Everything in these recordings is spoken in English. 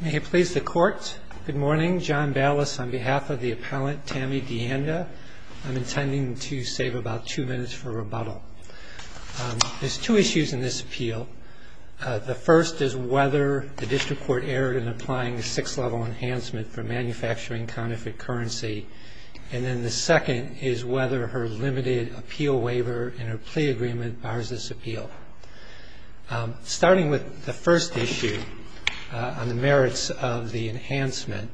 May it please the court. Good morning. John Ballas on behalf of the appellant Tami Deanda. I'm intending to save about two minutes for rebuttal. There's two issues in this appeal. The first is whether the district court erred in applying a six level enhancement for manufacturing counterfeit currency. And then the second is whether her limited appeal waiver and her plea agreement bars this appeal. Starting with the first issue on the merits of the enhancement,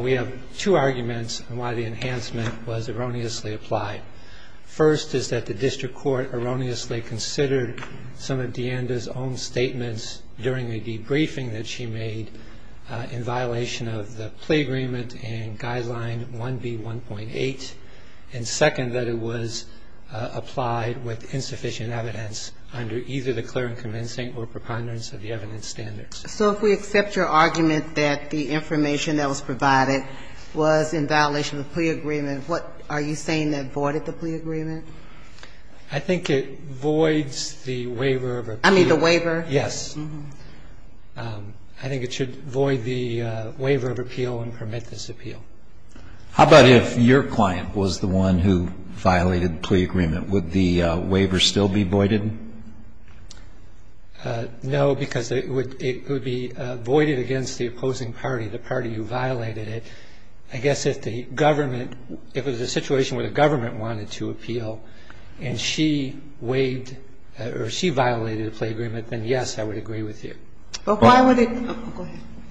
we have two arguments on why the enhancement was erroneously applied. First is that the district court erroneously considered some of Deanda's own statements during the debriefing that she made in violation of the plea agreement and guideline 1B1.8. And second, that it was applied with insufficient evidence under either the clear and convincing or preponderance of the evidence standards. So if we accept your argument that the information that was provided was in violation of the plea agreement, what are you saying that voided the plea agreement? I think it voids the waiver of appeal. I mean the waiver? Yes. I think it should void the waiver of appeal and permit this appeal. How about if your client was the one who violated the plea agreement, would the waiver still be voided? No, because it would be voided against the opposing party, the party who violated it. I guess if the government, if it was a situation where the government wanted to appeal and she waived or she violated the plea agreement, then yes, I would agree with you. Well, why would it? Go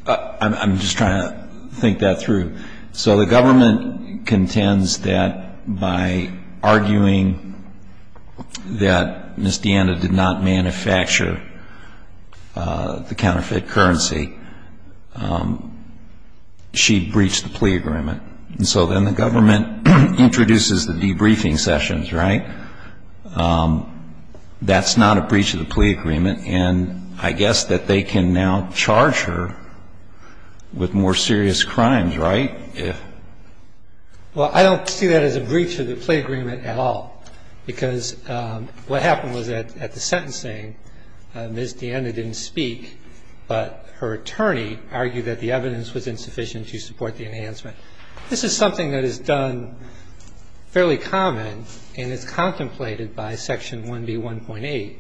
ahead. I'm just trying to think that through. So the government contends that by arguing that Ms. DeAnna did not manufacture the counterfeit currency, she breached the plea agreement. And so then the government introduces the debriefing sessions, right? That's not a breach of the plea agreement. And I guess that they can now charge her with more serious crimes, right? Well, I don't see that as a breach of the plea agreement at all, because what happened was that at the sentencing, Ms. DeAnna didn't speak, but her attorney argued that the evidence was insufficient to support the enhancement. This is something that is done fairly common, and it's contemplated by Section 1B1.8,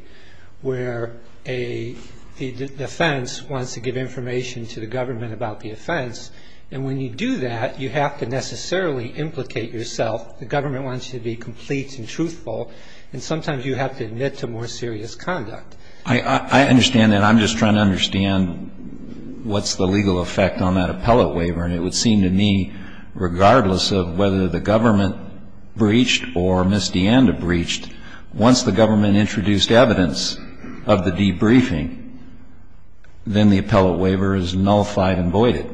where a defense wants to give information to the government about the offense. And when you do that, you have to necessarily implicate yourself. The government wants you to be complete and truthful, and sometimes you have to admit to more serious conduct. I understand that. I'm just trying to understand what's the legal effect on that appellate waiver. And it would seem to me, regardless of whether the government breached or Ms. DeAnna breached, once the government introduced evidence of the debriefing, then the appellate waiver is nullified and voided.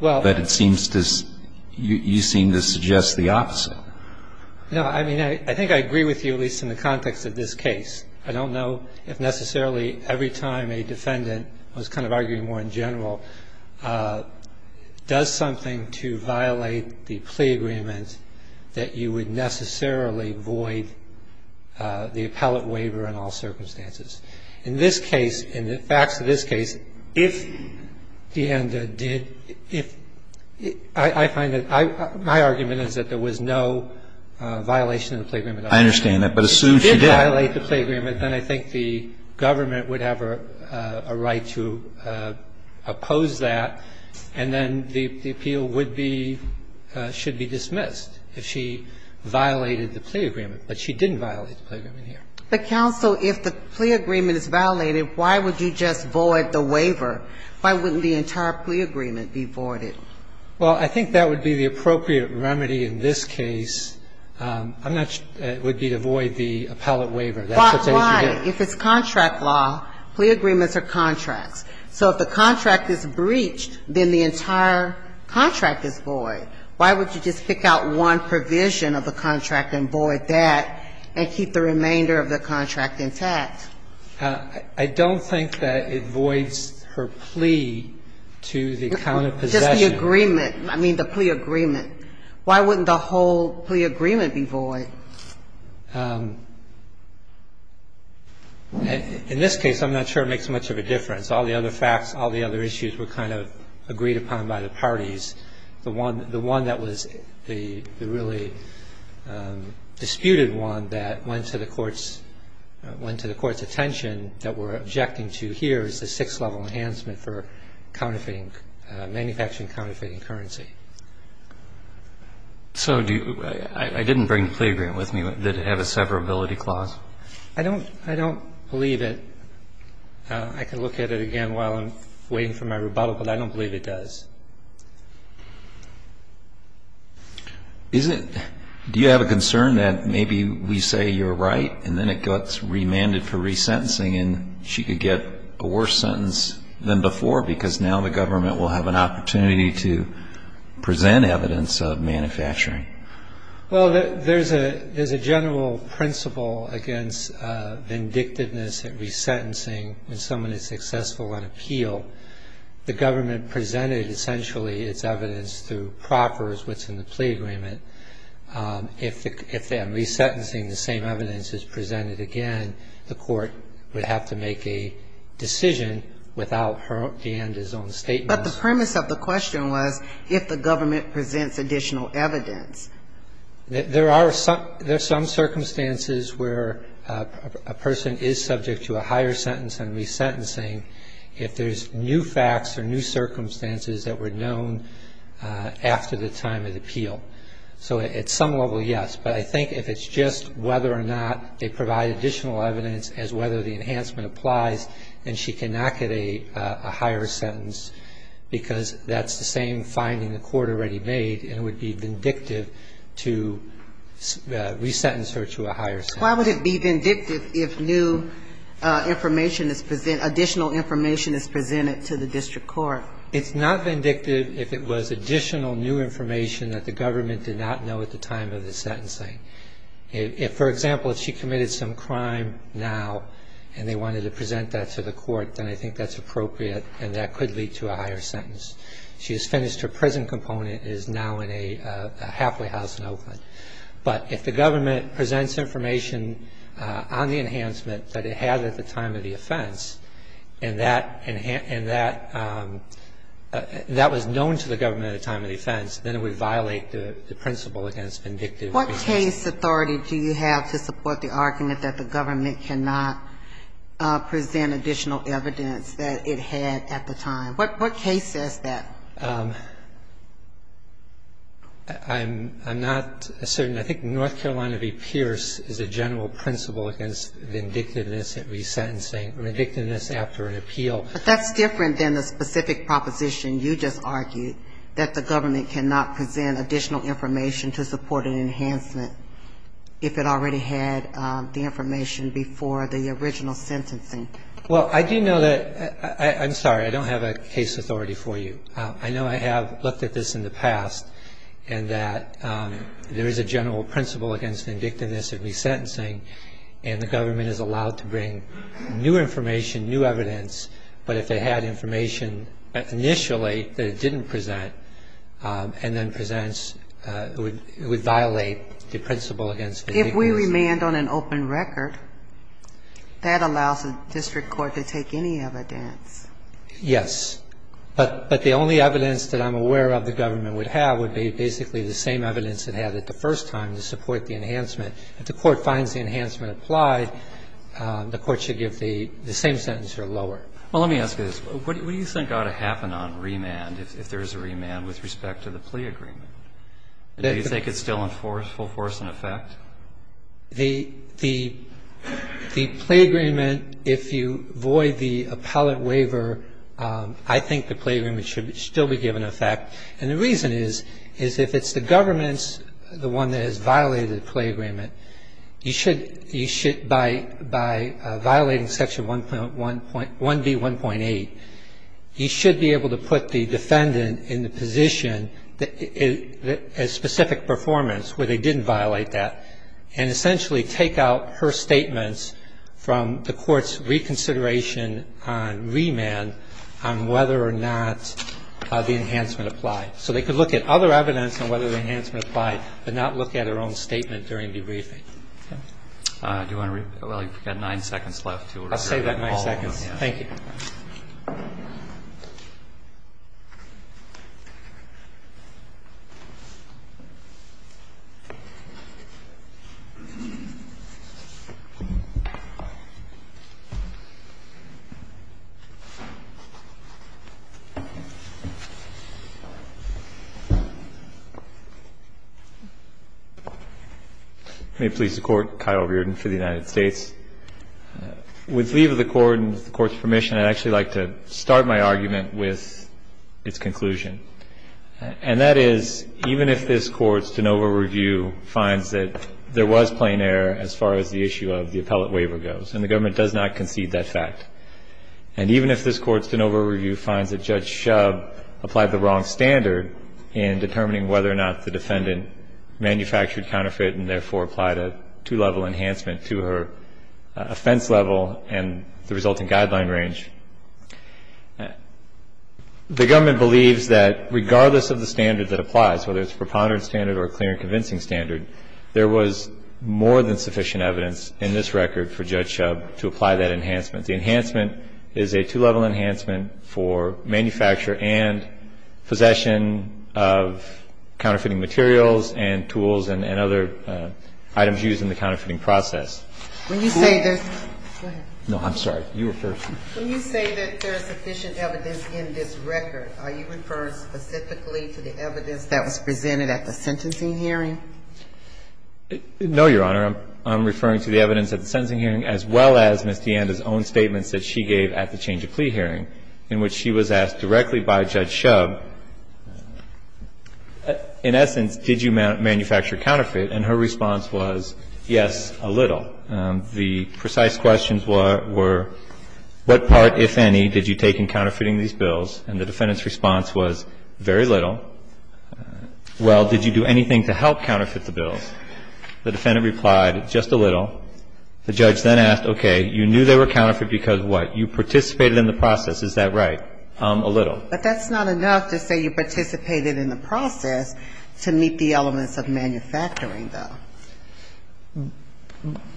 But it seems to you seem to suggest the opposite. No. I mean, I think I agree with you, at least in the context of this case. I don't know if necessarily every time a defendant was kind of arguing more in general does something to violate the plea agreement that you would necessarily void the appellate waiver in all circumstances. In this case, in the facts of this case, if DeAnna did – if – I find that – my argument is that there was no violation of the plea agreement. I understand that, but assume she did. If she did violate the plea agreement, then I think the government would have a right to oppose that, and then the appeal would be – should be dismissed if she violated the plea agreement. But she didn't violate the plea agreement here. But, counsel, if the plea agreement is violated, why would you just void the waiver? Why wouldn't the entire plea agreement be voided? Well, I think that would be the appropriate remedy in this case. I'm not – it would be to void the appellate waiver. That's what they would do. But why? If it's contract law, plea agreements are contracts. So if the contract is breached, then the entire contract is void. Why would you just pick out one provision of the contract and void that and keep the remainder of the contract intact? I don't think that it voids her plea to the account of possession. Just the agreement. I mean, the plea agreement. Why wouldn't the whole plea agreement be void? In this case, I'm not sure it makes much of a difference. All the other facts, all the other issues were kind of agreed upon by the parties. The one that was the really disputed one that went to the Court's – went to the Court's attention that we're objecting to here is the sixth-level enhancement for counterfeiting – manufacturing counterfeiting currency. So do you – I didn't bring the plea agreement with me. Did it have a severability clause? I don't believe it. I can look at it again while I'm waiting for my rebuttal, but I don't believe it does. Is it – do you have a concern that maybe we say you're right and then it gets remanded for resentencing and she could get a worse sentence than before because now the government will have an opportunity to present evidence of manufacturing? Well, there's a general principle against vindictiveness and resentencing when someone is successful on appeal. The government presented, essentially, its evidence through proffers within the plea agreement. If in resentencing the same evidence is presented again, the court would have to make a decision without her or Dan's own statement. But the premise of the question was if the government presents additional evidence. There are some – there are some circumstances where a person is subject to a higher sentence than resentencing if there's new facts or new circumstances that were known after the time of the appeal. So at some level, yes, but I think if it's just whether or not they provide additional evidence as whether the enhancement applies, then she cannot get a higher sentence because that's the same finding the court already made and it would be vindictive to resentence her to a higher sentence. Why would it be vindictive if new information is – additional information is presented to the district court? It's not vindictive if it was additional new information that the government did not know at the time of the sentencing. If, for example, if she committed some crime now and they wanted to present that to the court, then I think that's appropriate and that could lead to a higher sentence. She has finished her prison component and is now in a halfway house in Oakland. But if the government presents information on the enhancement that it had at the time of the offense and that was known to the government at the time of the offense, then it would violate the principle against vindictive resentencing. What case authority do you have to support the argument that the government cannot present additional evidence that it had at the time? What case says that? I'm not certain. I think North Carolina v. Pierce is a general principle against vindictiveness at resentencing, vindictiveness after an appeal. But that's different than the specific proposition you just argued, that the government cannot present additional information to support an enhancement if it already had the information before the original sentencing. Well, I do know that – I'm sorry, I don't have a case authority for you. I know I have looked at this in the past and that there is a general principle against vindictiveness at resentencing, and the government is allowed to bring new information, new evidence, but if it had information initially that it didn't present and then presents, it would violate the principle against vindictiveness. If we remand on an open record, that allows the district court to take any evidence. Yes. But the only evidence that I'm aware of the government would have would be basically the same evidence it had at the first time to support the enhancement. If the court finds the enhancement applied, the court should give the same sentence or lower. Well, let me ask you this. What do you think ought to happen on remand if there is a remand with respect to the plea agreement? Do you think it's still in full force in effect? The plea agreement, if you void the appellate waiver, I think the plea agreement should still be given effect. And the reason is, is if it's the government's, the one that has violated the plea agreement, you should – you should, by violating section 1B1.8, you should be able to put the defendant in the position, a specific performance where they didn't violate that, and essentially take out her statements from the court's reconsideration on remand on whether or not the enhancement applied. So they could look at other evidence on whether the enhancement applied, but not look at her own statement during debriefing. Okay. Do you want to – well, you've got nine seconds left. I'll save that nine seconds. Thank you. May it please the Court, Kyle Reardon for the United States. With leave of the Court and the Court's permission, I'd actually like to start my argument with its conclusion. And that is, even if this Court's de novo review finds that there was plain error as far as the issue of the appellate waiver goes, and the government does not concede that fact, and even if this Court's de novo review finds that Judge Shub applied the wrong standard in determining whether or not the defendant manufactured counterfeit and therefore applied a two-level enhancement to her offense level and the resulting guideline range, the government believes that regardless of the standard that applies, whether it's a preponderant standard or a clear and convincing standard, there was more than sufficient evidence in this record for Judge Shub to apply that enhancement. The enhancement is a two-level enhancement for manufacture and possession of It's a two-level enhancement for the use of counterfeit goods and other items used in the counterfeiting process. When you say there's no, I'm sorry, you were first. When you say that there's sufficient evidence in this record, are you referring specifically to the evidence that was presented at the sentencing hearing? No, Your Honor. I'm referring to the evidence at the sentencing hearing as well as Ms. DeAnda's counterfeit, and her response was, yes, a little. The precise questions were, what part, if any, did you take in counterfeiting these bills? And the defendant's response was, very little. Well, did you do anything to help counterfeit the bills? The defendant replied, just a little. The judge then asked, okay, you knew they were counterfeit because what? You participated in the process. Is that right? A little. But that's not enough to say you participated in the process to meet the elements of manufacturing, though.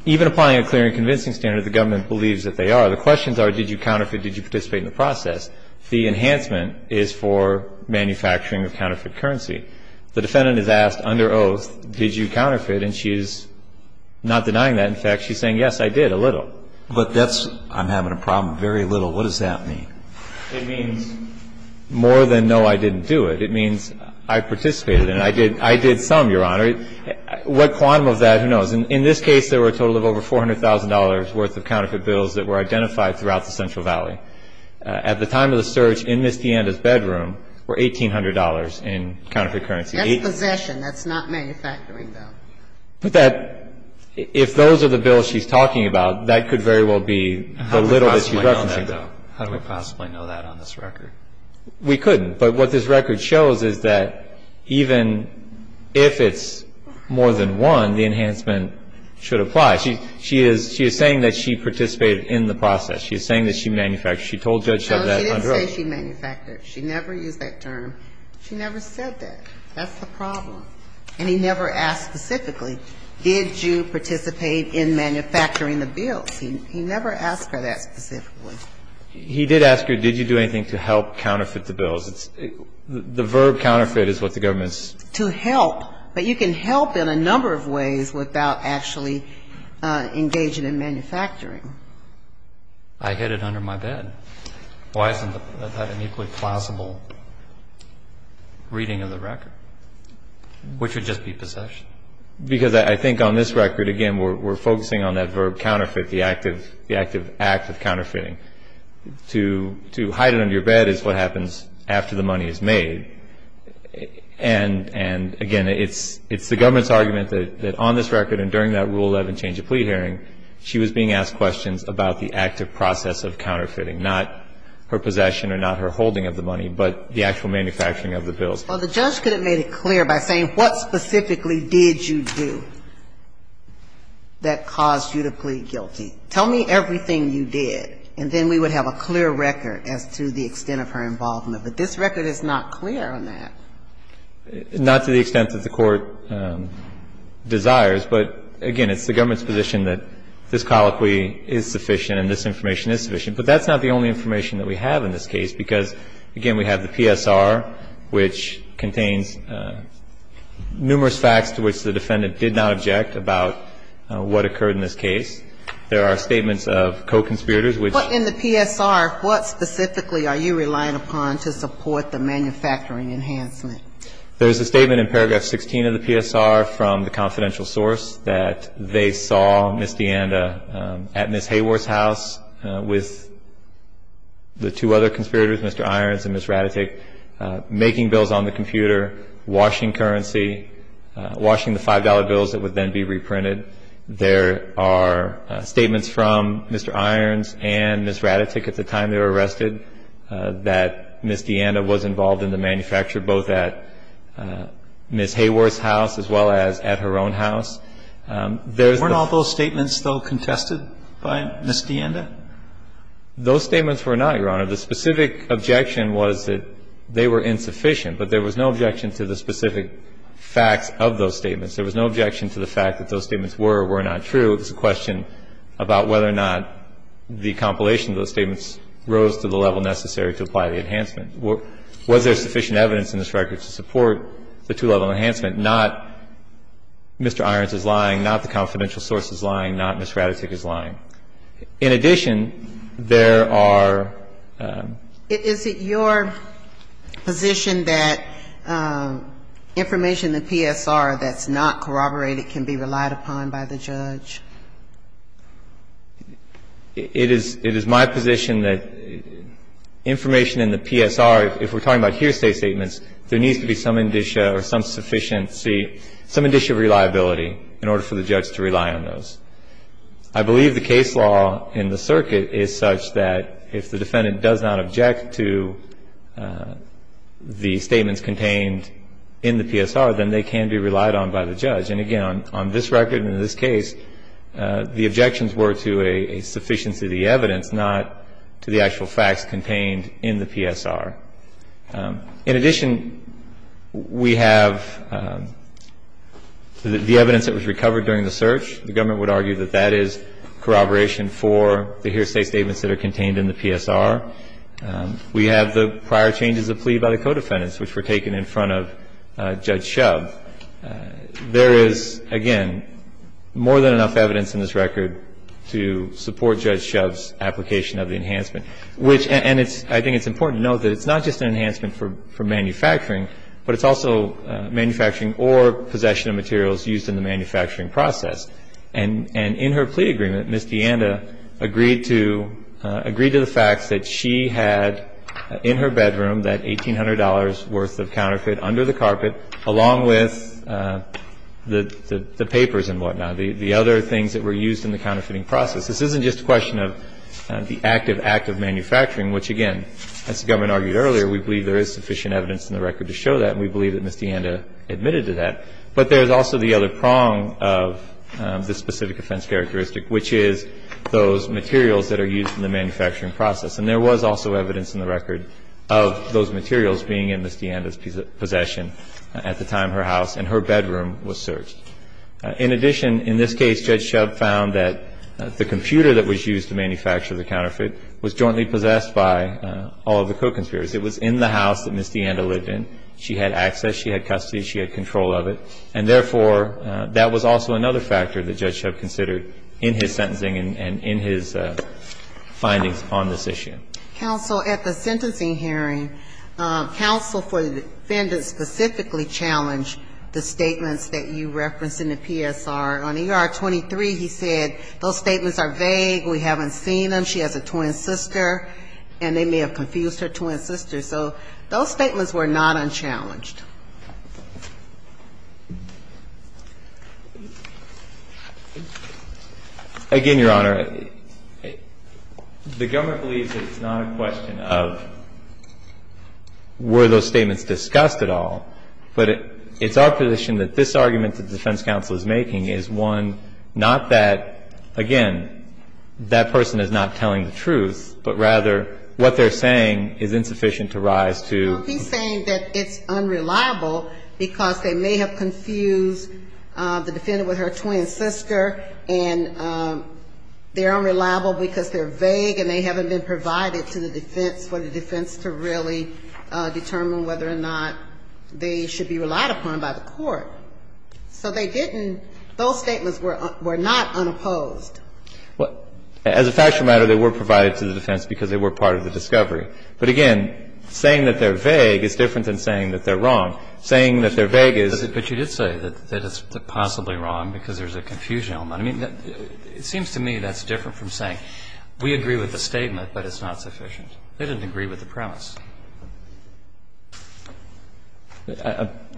Even applying a clear and convincing standard, the government believes that they are. The questions are, did you counterfeit, did you participate in the process? The enhancement is for manufacturing of counterfeit currency. The defendant is asked under oath, did you counterfeit? And she's not denying that. In fact, she's saying, yes, I did, a little. But that's, I'm having a problem, very little. What does that mean? It means more than no, I didn't do it. It means I participated in it. I did some, Your Honor. What quantum of that, who knows. In this case, there were a total of over $400,000 worth of counterfeit bills that were identified throughout the Central Valley. At the time of the search, in Ms. DeAnda's bedroom, were $1,800 in counterfeit currency. That's possession. That's not manufacturing, though. But that, if those are the bills she's talking about, that could very well be the little that she's referencing. How do we possibly know that, though? How do we possibly know that on this record? We couldn't. But what this record shows is that even if it's more than one, the enhancement should apply. She is saying that she participated in the process. She is saying that she manufactured. She told Judge Sudd that on her own. No, she didn't say she manufactured. She never used that term. She never said that. That's the problem. And he never asked specifically, did you participate in manufacturing the bills? He never asked her that specifically. He did ask her, did you do anything to help counterfeit the bills? The verb counterfeit is what the government's ---- To help. But you can help in a number of ways without actually engaging in manufacturing. I hid it under my bed. Why isn't that an equally plausible reading of the record, which would just be possession? Because I think on this record, again, we're focusing on that verb counterfeit, the active act of counterfeiting. To hide it under your bed is what happens after the money is made. And, again, it's the government's argument that on this record and during that Rule 11 change of plea hearing, she was being asked questions about the active process of counterfeiting, not her possession or not her holding of the money, but the actual manufacturing of the bills. Well, the judge could have made it clear by saying what specifically did you do that caused you to plead guilty. Tell me everything you did, and then we would have a clear record as to the extent of her involvement. But this record is not clear on that. Not to the extent that the Court desires. But, again, it's the government's position that this colloquy is sufficient and this information is sufficient. But that's not the only information that we have in this case, because, again, we have the PSR, which contains numerous facts to which the defendant did not object about what occurred in this case. There are statements of co-conspirators, which ---- But in the PSR, what specifically are you relying upon to support the manufacturing enhancement? There's a statement in paragraph 16 of the PSR from the confidential source that they saw Ms. DeAnda at Ms. Hayworth's house with the two other conspirators, Mr. Irons and Ms. Ratatick, making bills on the computer, washing currency, washing the $5 bills that would then be reprinted. There are statements from Mr. Irons and Ms. Ratatick at the time they were arrested that Ms. DeAnda was involved in the manufacture, both at Ms. Hayworth's house as well as at her own house. There's the ---- Weren't all those statements, though, contested by Ms. DeAnda? Those statements were not, Your Honor. The specific objection was that they were insufficient. But there was no objection to the specific facts of those statements. There was no objection to the fact that those statements were or were not true. It was a question about whether or not the compilation of those statements rose to the level necessary to apply the enhancement. Was there sufficient evidence in this record to support the two-level enhancement? Not Mr. Irons is lying, not the confidential source is lying, not Ms. Ratatick is lying. In addition, there are ---- Is it your position that information in the PSR that's not corroborated can be relied upon by the judge? It is my position that information in the PSR, if we're talking about hearsay statements, there needs to be some indicia or some sufficiency, some indicia of reliability in order for the judge to rely on those. I believe the case law in the circuit is such that if the defendant does not object to the statements contained in the PSR, then they can be relied on by the judge. And again, on this record and in this case, the objections were to a sufficiency of the evidence, not to the actual facts contained in the PSR. In addition, we have the evidence that was recovered during the search. The government would argue that that is corroboration for the hearsay statements that are contained in the PSR. We have the prior changes of plea by the co-defendants, which were taken in front of Judge Shove. There is, again, more than enough evidence in this record to support Judge Shove's application of the enhancement, which ---- and it's ---- I think it's important to note that it's not just an enhancement for manufacturing, but it's also manufacturing or possession of materials used in the manufacturing process. And in her plea agreement, Ms. DeAnda agreed to the facts that she had in her bedroom that $1,800 worth of counterfeit under the carpet, along with the papers and whatnot, the other things that were used in the counterfeiting process. This isn't just a question of the active act of manufacturing, which, again, as the government argued earlier, we believe there is sufficient evidence in the record to show that, and we believe that Ms. DeAnda admitted to that. But there is also the other prong of this specific offense characteristic, which is those materials that are used in the manufacturing process. And there was also evidence in the record of those materials being in Ms. DeAnda's possession at the time her house and her bedroom was searched. In addition, in this case, Judge Shove found that the computer that was used to manufacture the counterfeit was jointly possessed by all of the co-conspirators. It was in the house that Ms. DeAnda lived in. She had access. She had custody. She had control of it. And therefore, that was also another factor that Judge Shove considered in his sentencing and in his findings on this issue. Counsel, at the sentencing hearing, counsel for the defendant specifically challenged the statements that you referenced in the PSR. On ER 23, he said, those statements are vague, we haven't seen them, she has a twin sister, and they may have confused her twin sister. So those statements were not unchallenged. Again, Your Honor, the government believes that it's not a question of were those statements discussed at all, but it's our position that this argument that the defense counsel is making is one not that, again, that person is not telling the truth, but rather what they're saying is insufficient to rise to. He's saying that it's unreliable because they may have confused the defendant with her twin sister, and they're unreliable because they're vague and they haven't been provided to the defense for the defense to really determine whether or not they should be relied upon by the court. So they didn't – those statements were not unopposed. As a factual matter, they were provided to the defense because they were part of the discovery. But again, saying that they're vague is different than saying that they're wrong. Saying that they're vague is – But you did say that it's possibly wrong because there's a confusion element. I mean, it seems to me that's different from saying we agree with the statement, but it's not sufficient. They didn't agree with the premise.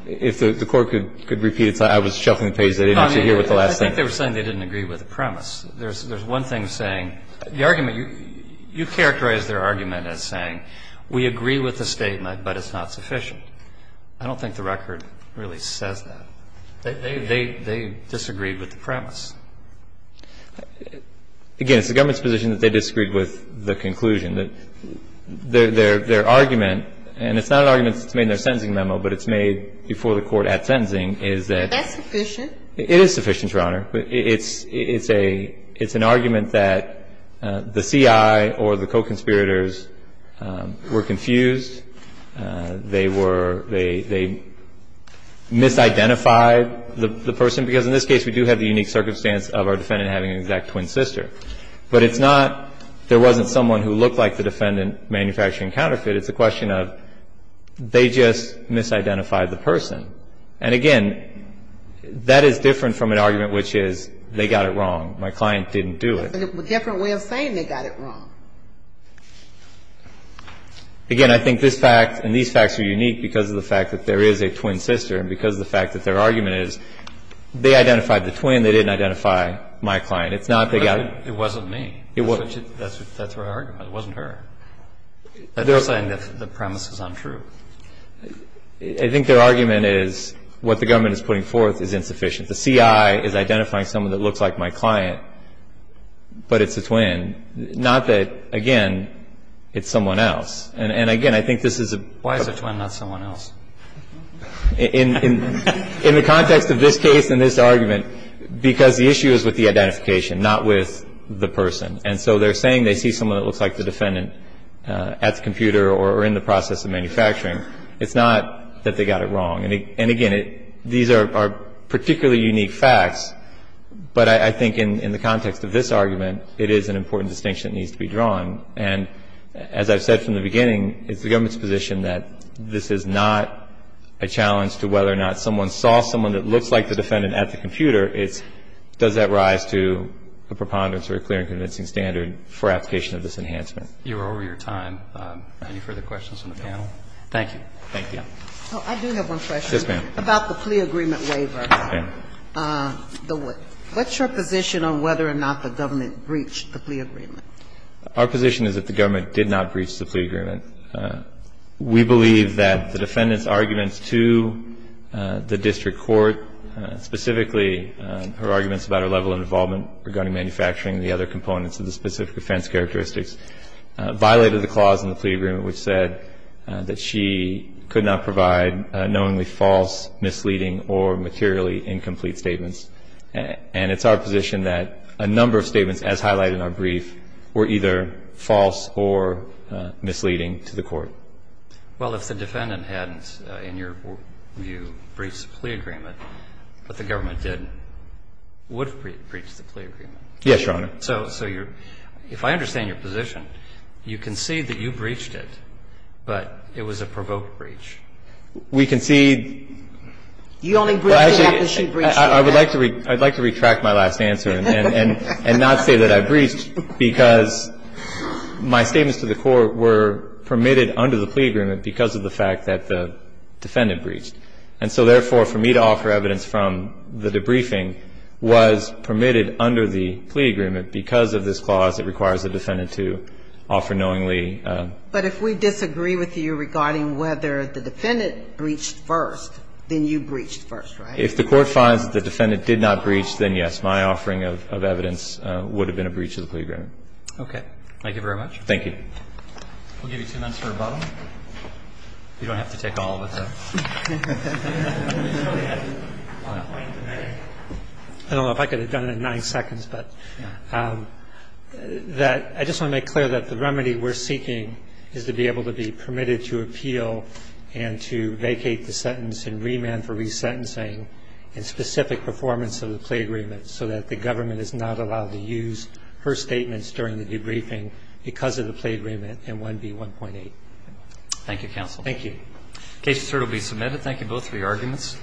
If the Court could repeat it, I was shuffling the pages. I didn't want you to hear what the last thing was. I mean, I think they were saying they didn't agree with the premise. There's one thing saying – the argument, you characterized their argument as saying we agree with the statement, but it's not sufficient. I don't think the record really says that. They disagreed with the premise. Again, it's the government's position that they disagreed with the conclusion, that their argument, and it's not an argument that's made in their sentencing memo, but it's made before the Court at sentencing, is that – But that's sufficient. It is sufficient, Your Honor. It's a – it's an argument that the CI or the co-conspirators were confused. They were – they misidentified the person. Because in this case, we do have the unique circumstance of our defendant having an exact twin sister. But it's not there wasn't someone who looked like the defendant manufacturing counterfeit. It's a question of they just misidentified the person. And again, that is different from an argument which is they got it wrong. My client didn't do it. But it's a different way of saying they got it wrong. Again, I think this fact and these facts are unique because of the fact that there is a twin sister and because of the fact that their argument is they identified the twin, they didn't identify my client. It's not they got it. It wasn't me. It wasn't. That's her argument. It wasn't her. They're saying the premise is untrue. I think their argument is what the government is putting forth is insufficient. The CI is identifying someone that looks like my client, but it's a twin. Not that, again, it's someone else. And again, I think this is a – Why is a twin not someone else? In the context of this case and this argument, because the issue is with the identification not with the person. And so they're saying they see someone that looks like the defendant at the computer or in the process of manufacturing. It's not that they got it wrong. And again, these are particularly unique facts, but I think in the context of this argument, it is an important distinction that needs to be drawn. And as I've said from the beginning, it's the government's position that this is not a challenge to whether or not someone saw someone that looks like the defendant at the computer. It's does that rise to a preponderance or a clear and convincing standard for application of this enhancement. You're over your time. Any further questions from the panel? Thank you. Thank you. I do have one question. Yes, ma'am. About the plea agreement waiver. Okay. What's your position on whether or not the government breached the plea agreement? Our position is that the government did not breach the plea agreement. We believe that the defendant's arguments to the district court, specifically her arguments about her level of involvement regarding manufacturing and the other components of the specific offense characteristics, violated the clause in the plea agreement which said that she could not provide knowingly false, misleading, or materially incomplete statements. And it's our position that a number of statements, as highlighted in our brief, were either false or misleading to the court. Well, if the defendant hadn't, in your view, breached the plea agreement, but the government did, would have breached the plea agreement. Yes, Your Honor. So if I understand your position, you concede that you breached it, but it was a provoked breach. We concede. You only breached the acquisition breach. I would like to retract my last answer and not say that I breached because my statements to the court were permitted under the plea agreement because of the fact that the defendant breached. And so, therefore, for me to offer evidence from the debriefing was permitted under the plea agreement because of this clause that requires the defendant to offer knowingly. But if we disagree with you regarding whether the defendant breached first, then you breached first, right? If the court finds that the defendant did not breach, then, yes, my offering of evidence would have been a breach of the plea agreement. Okay. Thank you very much. Thank you. We'll give you two minutes for rebuttal. You don't have to take all of it, though. I don't know if I could have done it in nine seconds, but I just want to make clear that the remedy we're seeking is to be able to be permitted to appeal and to vacate the sentence in remand for resentencing in specific performance of the plea agreement so that the government is not allowed to use her statements during the debriefing because of the plea agreement in 1B1.8. Thank you, counsel. Thank you. The case is certainly submitted. Thank you both for your arguments.